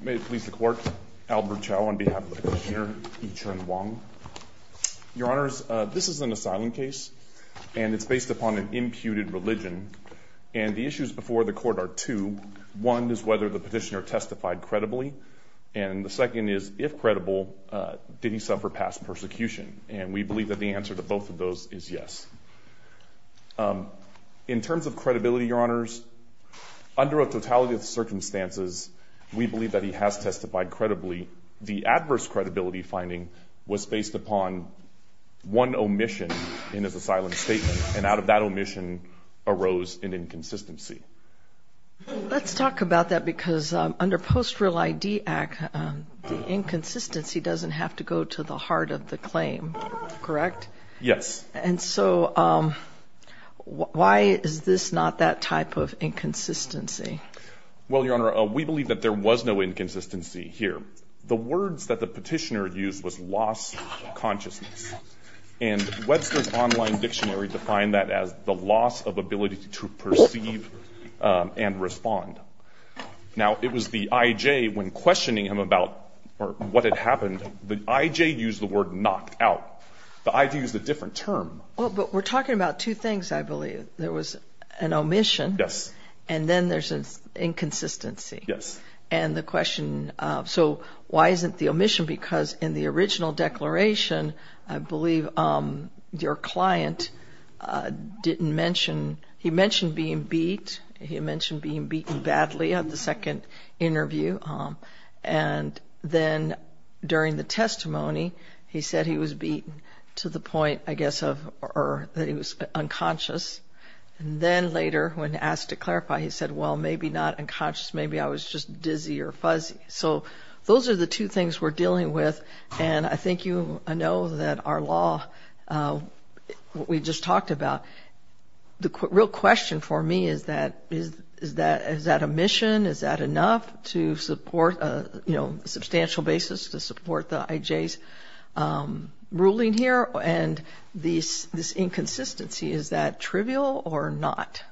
May it please the Court, Albert Chow on behalf of the Petitioner, Yichun Wang. Your Honors, this is an asylum case, and it's based upon an imputed religion, and the issues before the Court are two. One is whether the Petitioner testified credibly, and the second is, if credible, did he suffer past persecution, and we believe that the answer to both of those is yes. In terms of credibility, Your Honors, under a totality of circumstances, we believe that he has testified credibly. The adverse credibility finding was based upon one omission in his asylum statement, and out of that omission arose an inconsistency. Let's talk about that, because under Post-Real ID Act, the inconsistency doesn't have to go to the heart of the claim, correct? Yes. And so, why is this not that type of inconsistency? Well, Your Honor, we believe that there was no inconsistency here. The words that the Petitioner used was loss of consciousness, and Webster's online dictionary defined that as the loss of ability to perceive and respond. Now, it was the I.J. when questioning him about what had happened, the I.J. used the word knocked out. The I.J. used a different term. Well, but we're talking about two things, I believe. There was an omission, and then there's an inconsistency. And the question, so why isn't the omission? Because in the original declaration, I believe your client didn't mention, he mentioned being beat, he mentioned being beaten badly at the second interview, and then during the testimony, he said he was beaten to the point, I guess, of, or that he was unconscious, and then later when asked to clarify, he said, well, maybe not unconscious, maybe I was just dizzy or fuzzy. So, those are the two things we're dealing with, and I think you know that our law, what we just talked about, the real question for me is that, is that omission, is that enough to support, you know, a substantial basis to support the I.J.'s ruling here? And this inconsistency, is that trivial or not?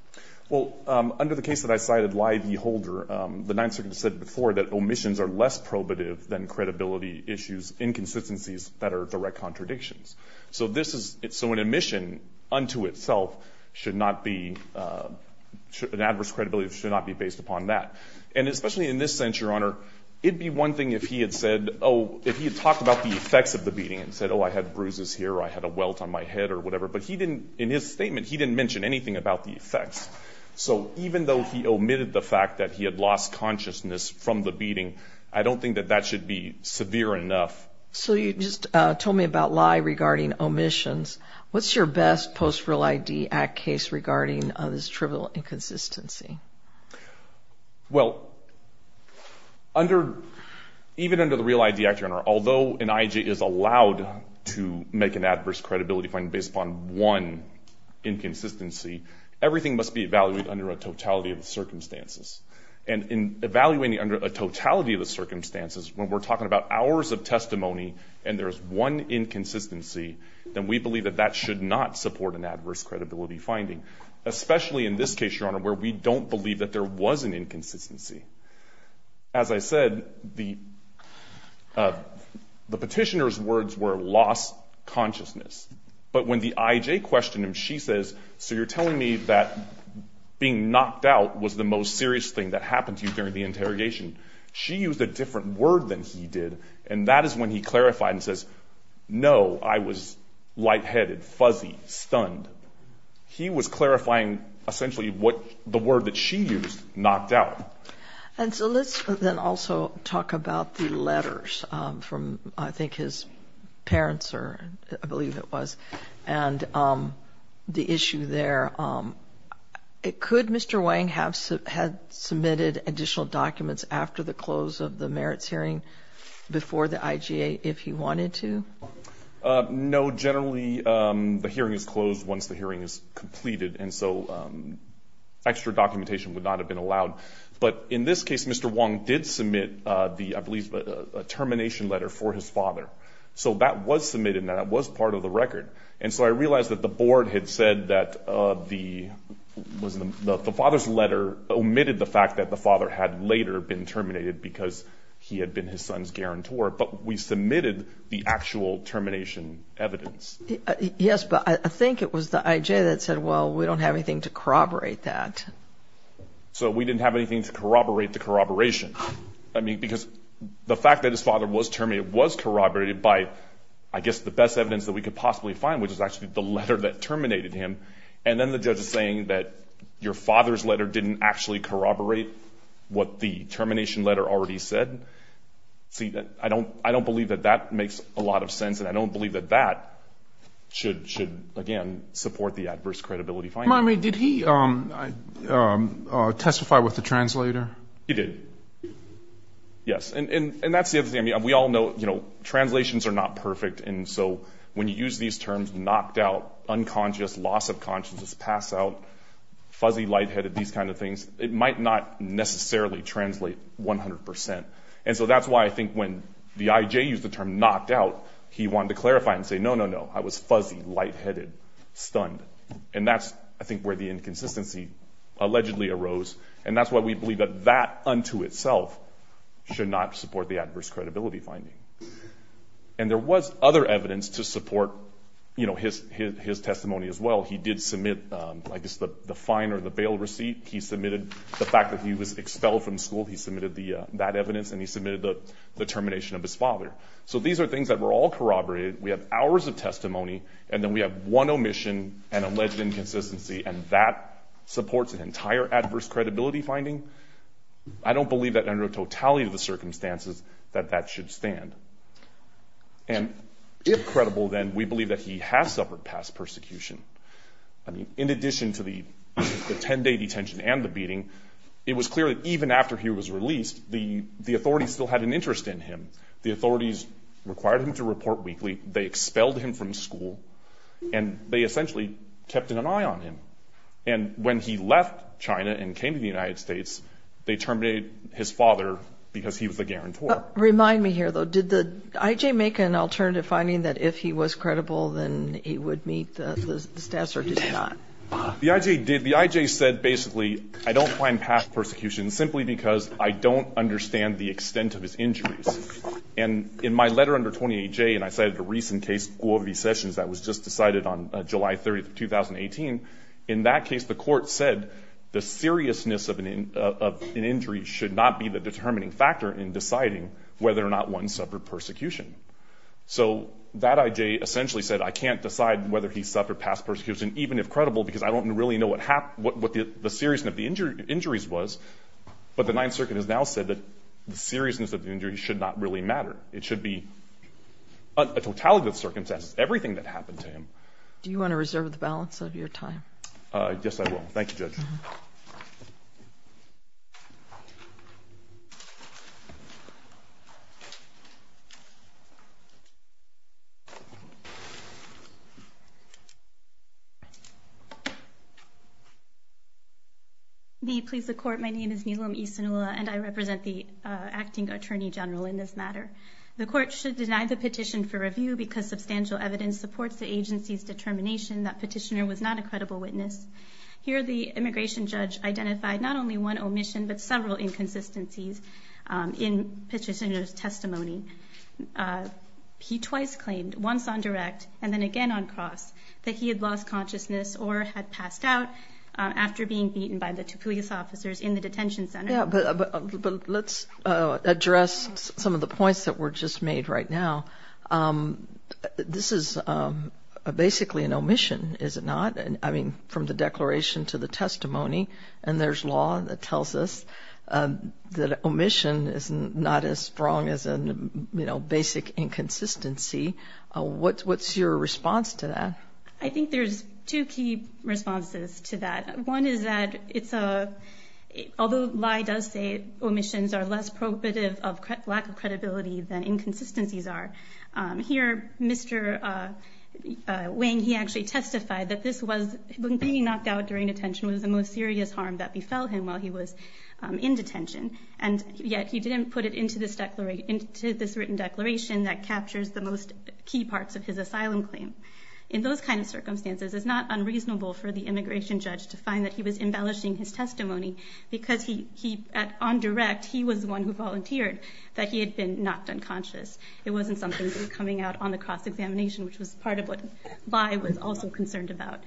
Well, under the case that I cited, Lie v. Holder, the Ninth Circuit said before that omissions are less probative than credibility issues, inconsistencies that are direct contradictions. So this is, so an omission unto itself should not be, an adverse credibility should not be based upon that. And especially in this sense, Your Honor, it'd be one thing if he had said, oh, if he had talked about the effects of the beating and said, oh, I had bruises here or I had a welt on my head or whatever, but he didn't, in his statement, he didn't mention anything about the effects. So even though he omitted the fact that he had lost consciousness from the beating, I don't think that that should be severe enough. So you just told me about Lie regarding omissions. What's your best Post-Real ID Act case regarding this trivial inconsistency? Well, even under the Real ID Act, Your Honor, although an I.J. is allowed to make an adverse credibility finding based upon one inconsistency, everything must be evaluated under a totality of the circumstances. And in evaluating under a totality of the circumstances, when we're talking about hours of testimony and there's one inconsistency, then we believe that that should not support an adverse credibility finding, especially in this case, Your Honor, where we don't believe that there was an inconsistency. As I said, the petitioner's words were lost consciousness. But when the I.J. questioned him, she says, so you're telling me that being knocked out was the most serious thing that happened to you during the interrogation? She used a different word than he did. And that is when he clarified and says, no, I was lightheaded, fuzzy, stunned. He was clarifying essentially what the word that she used, knocked out. And so let's then also talk about the letters from I think his parents or I believe it was and the issue there. Could Mr. Wang have submitted additional documents after the close of the merits hearing before the IGA if he wanted to? No. Generally, the hearing is closed once the hearing is completed, and so extra documentation would not have been allowed. But in this case, Mr. Wang did submit the, I believe, a termination letter for his father. So that was submitted and that was part of the record. And so I realized that the board had said that the father's letter omitted the fact that the father had later been terminated because he had been his son's guarantor. But we submitted the actual termination evidence. Yes, but I think it was the I.J. that said, well, we don't have anything to corroborate that. So we didn't have anything to corroborate the corroboration. I mean, because the fact that his father was terminated was corroborated by, I guess, the best evidence that we could possibly find, which was actually the letter that terminated him. And then the judge is saying that your father's letter didn't actually corroborate what the termination letter already said. See, I don't believe that that makes a lot of sense, and I don't believe that that should, again, support the adverse credibility finding. I mean, did he testify with the translator? He did. Yes. And that's the other thing. I mean, we all know, you know, translations are not perfect. And so when you use these terms, knocked out, unconscious, loss of consciousness, pass out, fuzzy, lightheaded, these kind of things, it might not necessarily translate 100 percent. And so that's why I think when the I.J. used the term knocked out, he wanted to clarify and say, no, no, no, I was fuzzy, lightheaded, stunned. And that's, I think, where the inconsistency allegedly arose. And that's why we believe that that unto itself should not support the adverse credibility finding. And there was other evidence to support, you know, his testimony as well. He did submit, I guess, the fine or the bail receipt. He submitted the fact that he was expelled from school. He submitted that evidence, and he submitted the termination of his father. So these are things that were all corroborated. We have hours of testimony, and then we have one omission and alleged inconsistency, and if that supports an entire adverse credibility finding, I don't believe that under a totality of the circumstances that that should stand. And if credible, then, we believe that he has suffered past persecution. In addition to the 10-day detention and the beating, it was clear that even after he was released, the authorities still had an interest in him. The authorities required him to report weekly. They expelled him from school, and they essentially kept an eye on him. And when he left China and came to the United States, they terminated his father because he was a guarantor. Remind me here, though. Did the I.J. make an alternative finding that if he was credible, then he would meet the status, or did he not? The I.J. did. The I.J. said, basically, I don't find past persecution simply because I don't understand the extent of his injuries. And in my letter under 28J, and I cited a recent case, Guovi Sessions, that was just decided on July 30, 2018, in that case, the court said the seriousness of an injury should not be the determining factor in deciding whether or not one suffered persecution. So that I.J. essentially said, I can't decide whether he suffered past persecution, even if credible, because I don't really know what the seriousness of the injuries was. But the Ninth Circuit has now said that the seriousness of the injuries should not really matter. It should be a totality of circumstances, everything that happened to him. Do you want to reserve the balance of your time? Yes, I will. Thank you, Judge. May it please the Court, my name is Nilam Isinula, and I represent the Acting Attorney General in this matter. The Court should deny the petition for review because substantial evidence supports the agency's determination that petitioner was not a credible witness. Here, the immigration judge identified not only one omission, but several inconsistencies in petitioner's testimony. He twice claimed, once on direct, and then again on cross, that he had lost consciousness or had passed out after being beaten by the Tupouyes officers in the detention center. Yeah, but let's address some of the points that were just made right now. This is basically an omission, is it not? I mean, from the declaration to the testimony, and there's law that tells us that omission is not as strong as a basic inconsistency. What's your response to that? I think there's two key responses to that. One is that, although Lye does say omissions are less probative of lack of credibility than inconsistencies are, here, Mr. Wang, he actually testified that being knocked out during detention was the most serious harm that befell him while he was in detention, and yet he didn't put it into this written declaration that captures the most key parts of his asylum claim. In those kinds of circumstances, it's not unreasonable for the immigration judge to find that he was embellishing his testimony because, on direct, he was the one who volunteered that he had been knocked unconscious. It wasn't something that was coming out on the cross-examination, which was part of what Lye was also concerned about.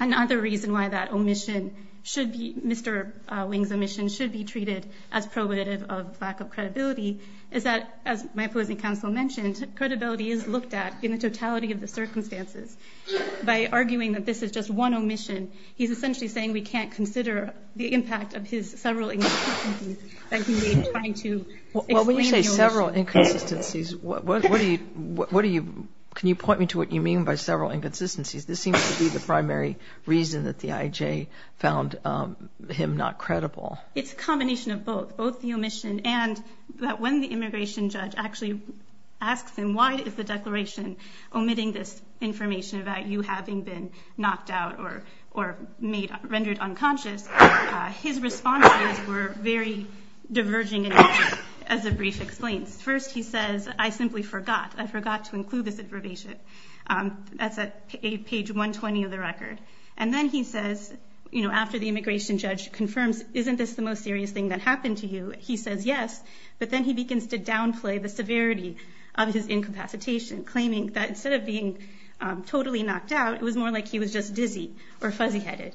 Another reason why that omission, Mr. Wang's omission, should be treated as probative of lack of credibility is that, as my opposing counsel mentioned, credibility is looked at in the totality of the circumstances. By arguing that this is just one omission, he's essentially saying we can't consider the impact of his several inconsistencies that he made trying to explain the omission. Well, when you say several inconsistencies, what do you, what do you, can you point me to what you mean by several inconsistencies? This seems to be the primary reason that the IJ found him not credible. It's a combination of both, both the omission and that when the immigration judge actually asks him, why is the declaration omitting this information about you having been knocked out or made, rendered unconscious? His responses were very diverging in nature, as the brief explains. First he says, I simply forgot, I forgot to include this information. That's at page 120 of the record. And then he says, you know, after the immigration judge confirms, isn't this the most serious thing that happened to you? He says yes, but then he begins to downplay the severity of his incapacitation, claiming that instead of being totally knocked out, it was more like he was just dizzy or fuzzy headed.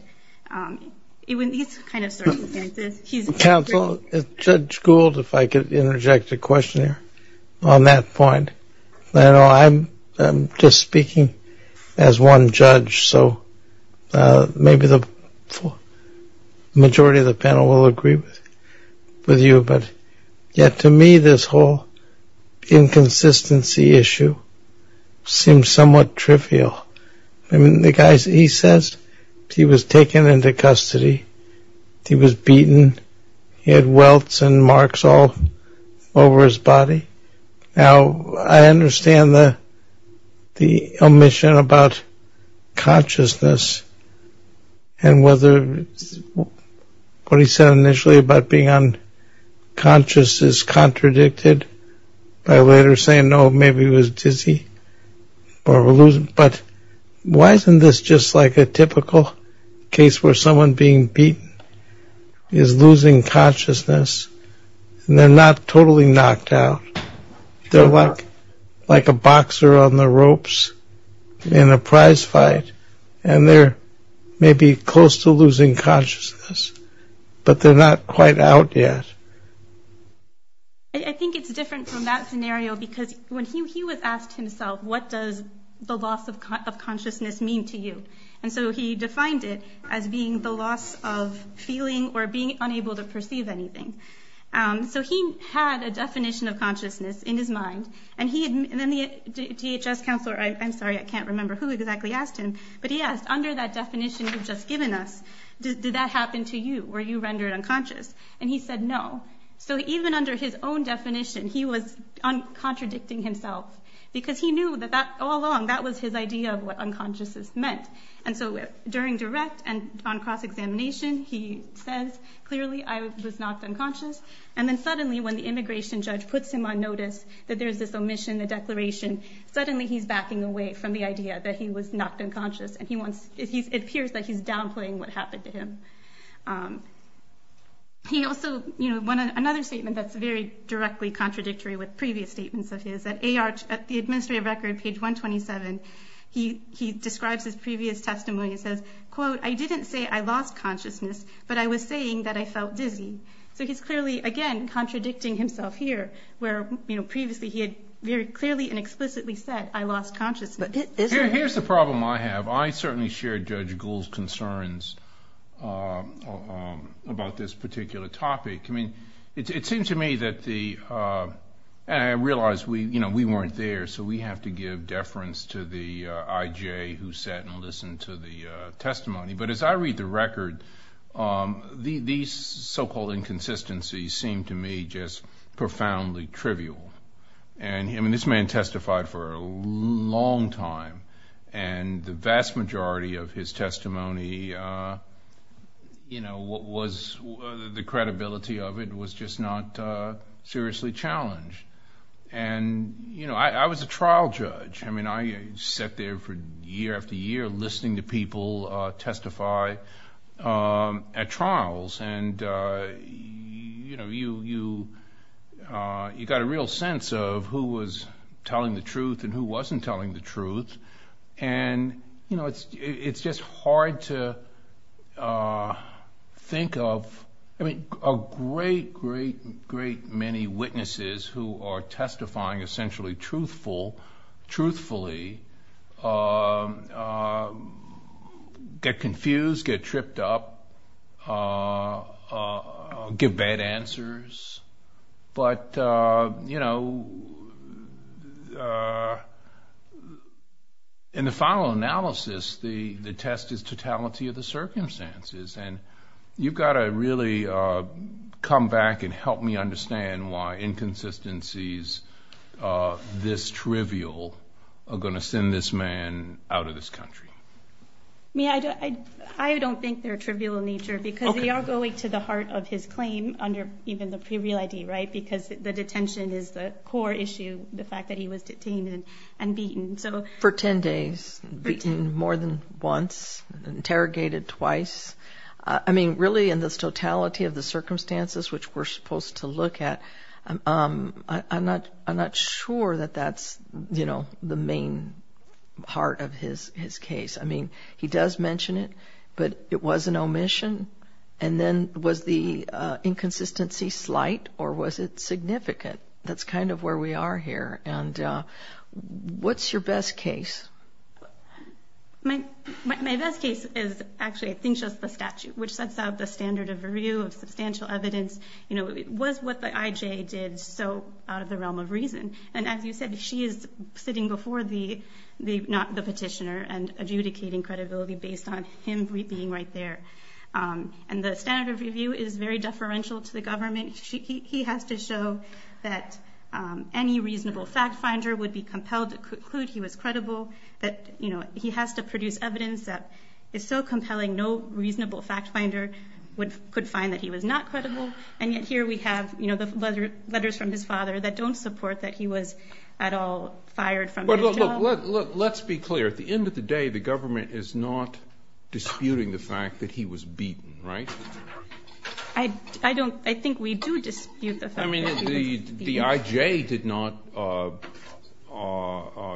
In these kind of circumstances, he's a great... Counsel, if Judge Gould, if I could interject a question here on that point, I know I'm just speaking as one judge, so maybe the majority of the panel will agree with you, but yet to me, this whole inconsistency issue seems somewhat trivial. The guy, he says, he was taken into custody, he was beaten, he had welts and marks all over his body. Now I understand the omission about consciousness and whether what he said initially about being unconscious is contradicted by later saying, oh, maybe he was dizzy, but why isn't this just like a typical case where someone being beaten is losing consciousness and they're not totally knocked out? They're like a boxer on the ropes in a prize fight and they're maybe close to losing consciousness, but they're not quite out yet. I think it's different from that scenario because when he was asked himself, what does the loss of consciousness mean to you? And so he defined it as being the loss of feeling or being unable to perceive anything. So he had a definition of consciousness in his mind and then the DHS counselor, I'm sorry, I can't remember who exactly asked him, but he asked, under that definition you've just been to you, were you rendered unconscious? And he said no. So even under his own definition, he was contradicting himself because he knew that all along that was his idea of what unconsciousness meant. And so during direct and on cross-examination, he says clearly I was knocked unconscious and then suddenly when the immigration judge puts him on notice that there's this omission, the declaration, suddenly he's backing away from the idea that he was knocked unconscious and it appears that he's downplaying what happened to him. He also, another statement that's very directly contradictory with previous statements of his, at the administrative record, page 127, he describes his previous testimony and says, quote, I didn't say I lost consciousness, but I was saying that I felt dizzy. So he's clearly, again, contradicting himself here where previously he had very clearly and explicitly said I lost consciousness. Here's the problem I have. I certainly share Judge Gould's concerns about this particular topic. It seems to me that the, and I realize we weren't there, so we have to give deference to the IJ who sat and listened to the testimony. But as I read the record, these so-called inconsistencies seem to me just profoundly trivial. And this man testified for a long time and the vast majority of his testimony, the credibility of it was just not seriously challenged. And I was a trial judge. I mean, I sat there for year after year listening to people testify at trials and you got a real sense of who was telling the truth and who wasn't telling the truth. And you know, it's just hard to think of, I mean, a great, great, great many witnesses who are testifying essentially truthfully, get confused, get tripped up, give bad answers. But, you know, in the final analysis, the test is totality of the circumstances. And you've got to really come back and help me understand why inconsistencies this trivial are going to send this man out of this country. I mean, I don't think they're trivial in nature because they are going to the heart of his claim under even the pre-real ID, right? Because the detention is the core issue, the fact that he was detained and beaten. So for 10 days, beaten more than once, interrogated twice, I mean, really in this totality of the circumstances, which we're supposed to look at, I'm not, I'm not sure that that's, you know, the main part of his, his case. I mean, he does mention it, but it was an omission. And then was the inconsistency slight or was it significant? That's kind of where we are here. And what's your best case? My, my best case is actually, I think, just the statute, which sets out the standard of review of substantial evidence, you know, was what the IJ did. So out of the realm of reason, and as you said, she is sitting before the, the, not the petitioner and adjudicating credibility based on him being right there. And the standard of review is very deferential to the government. He has to show that any reasonable fact finder would be compelled to conclude he was credible, that you know, he has to produce evidence that is so compelling, no reasonable fact finder would, could find that he was not credible. And yet here we have, you know, the letter, letters from his father that don't support that he was at all fired from his job. Let, let, let, let's be clear. At the end of the day, the government is not disputing the fact that he was beaten, right? I, I don't, I think we do dispute the fact that he was beaten. The IJ did not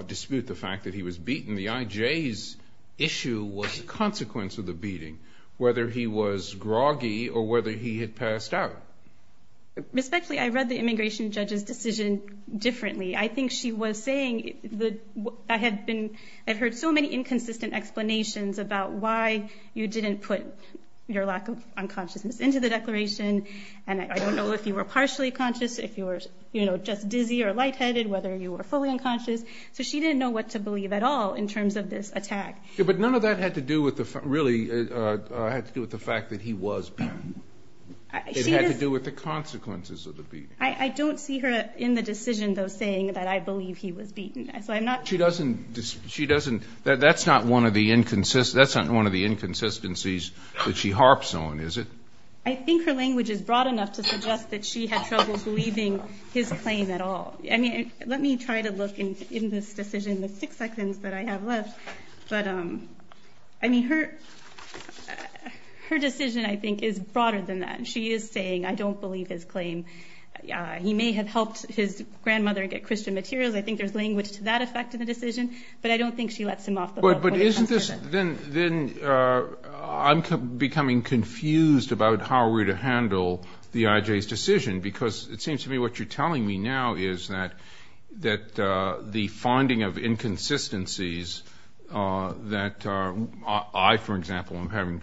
dispute the fact that he was beaten. The IJ's issue was the consequence of the beating, whether he was groggy or whether he had passed out. Respectfully, I read the immigration judge's decision differently. I think she was saying that I had been, I've heard so many inconsistent explanations about why you didn't put your lack of unconsciousness into the declaration. And I don't know if you were partially conscious, if you were, you know, just dizzy or lightheaded, whether you were fully unconscious. So she didn't know what to believe at all in terms of this attack. Yeah, but none of that had to do with the, really had to do with the fact that he was beaten. It had to do with the consequences of the beating. I don't see her in the decision, though, saying that I believe he was beaten. So I'm not. She doesn't. She doesn't. That's not one of the inconsistencies, that's not one of the inconsistencies that she harps on, is it? I think her language is broad enough to suggest that she had trouble believing his claim at all. I mean, let me try to look in this decision, the six seconds that I have left, but, I mean, her decision, I think, is broader than that. She is saying, I don't believe his claim. He may have helped his grandmother get Christian materials. I think there's language to that effect in the decision, but I don't think she lets him off the hook. But isn't this, then I'm becoming confused about how we're to handle the IJ's decision, because it seems to me what you're telling me now is that the finding of inconsistencies that I, for example, am having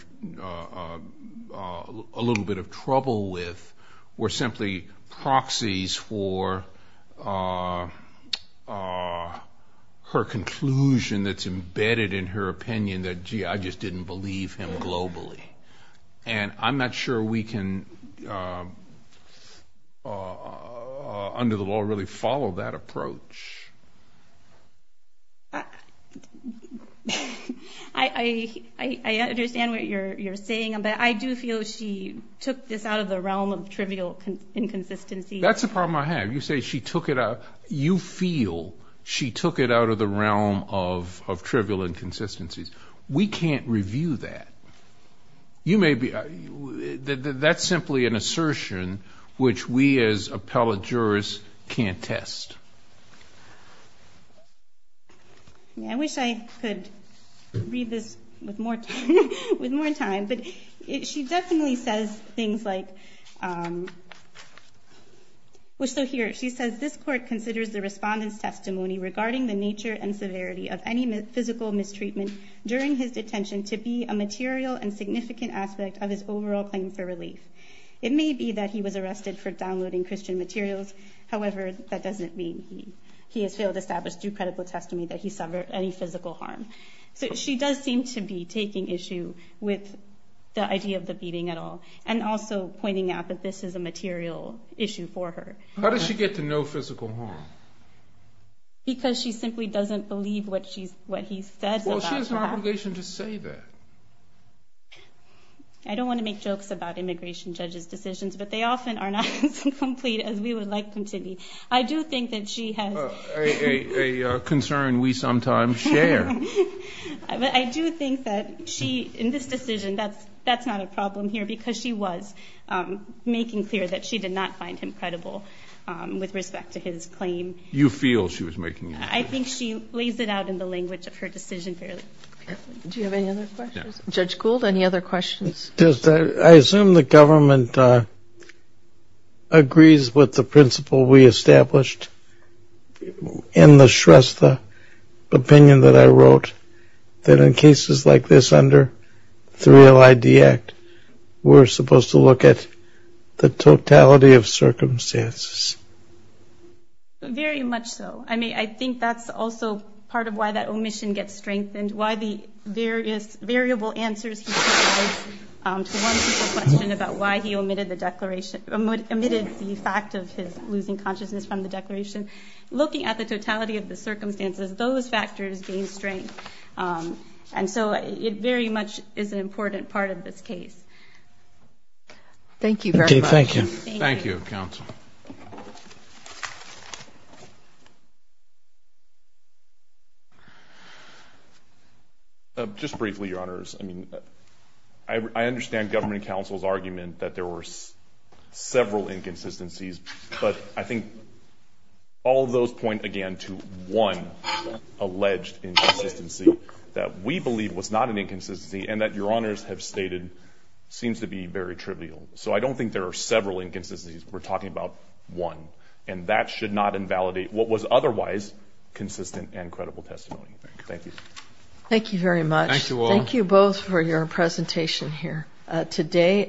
a little bit of trouble with were simply proxies for her conclusion that's embedded in her opinion that, gee, I just didn't believe him globally. And I'm not sure we can, under the law, really follow that approach. I understand what you're saying, but I do feel she took this out of the realm of trivial inconsistencies. That's the problem I have. You say she took it out, you feel she took it out of the realm of trivial inconsistencies. We can't review that. You may be, that's simply an assertion which we as appellate jurors can't test. I wish I could read this with more time, but she definitely says things like, so here she says, this court considers the respondent's testimony regarding the nature and severity of any physical mistreatment during his detention to be a material and significant aspect of his overall claim for relief. It may be that he was arrested for downloading Christian materials. However, that doesn't mean he has failed to establish due credible testimony that he suffered any physical harm. So she does seem to be taking issue with the idea of the beating at all, and also pointing out that this is a material issue for her. How does she get to know physical harm? Because she simply doesn't believe what he says about that. Well, she has an obligation to say that. I don't want to make jokes about immigration judges' decisions, but they often are not as complete as we would like them to be. I do think that she has... A concern we sometimes share. But I do think that she, in this decision, that's not a problem here, because she was making clear that she did not find him credible with respect to his claim. You feel she was making... I think she lays it out in the language of her decision fairly. Do you have any other questions? Judge Gould, any other questions? I assume the government agrees with the principle we established in the Shrestha opinion that I wrote, that in cases like this under the 3LID Act, we're supposed to look at the totality of circumstances. Very much so. I mean, I think that's also part of why that omission gets strengthened, why the various variable answers he provides to one simple question about why he omitted the fact of his losing consciousness from the declaration. Looking at the totality of the circumstances, those factors gain strength. And so it very much is an important part of this case. Thank you. Thank you, counsel. Just briefly, Your Honors. I mean, I understand Government Counsel's argument that there were several inconsistencies, but I think all of those point, again, to one alleged inconsistency that we believe was not an inconsistency and that Your Honors have stated seems to be very trivial. So I don't think there are several inconsistencies. We're talking about one. And that should not invalidate. What was otherwise consistent and credible testimony. Thank you. Thank you very much. Thank you all. Thank you both for your presentation here. Today,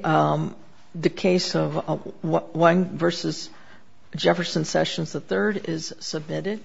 the case of Wang v. Jefferson Sessions III is submitted.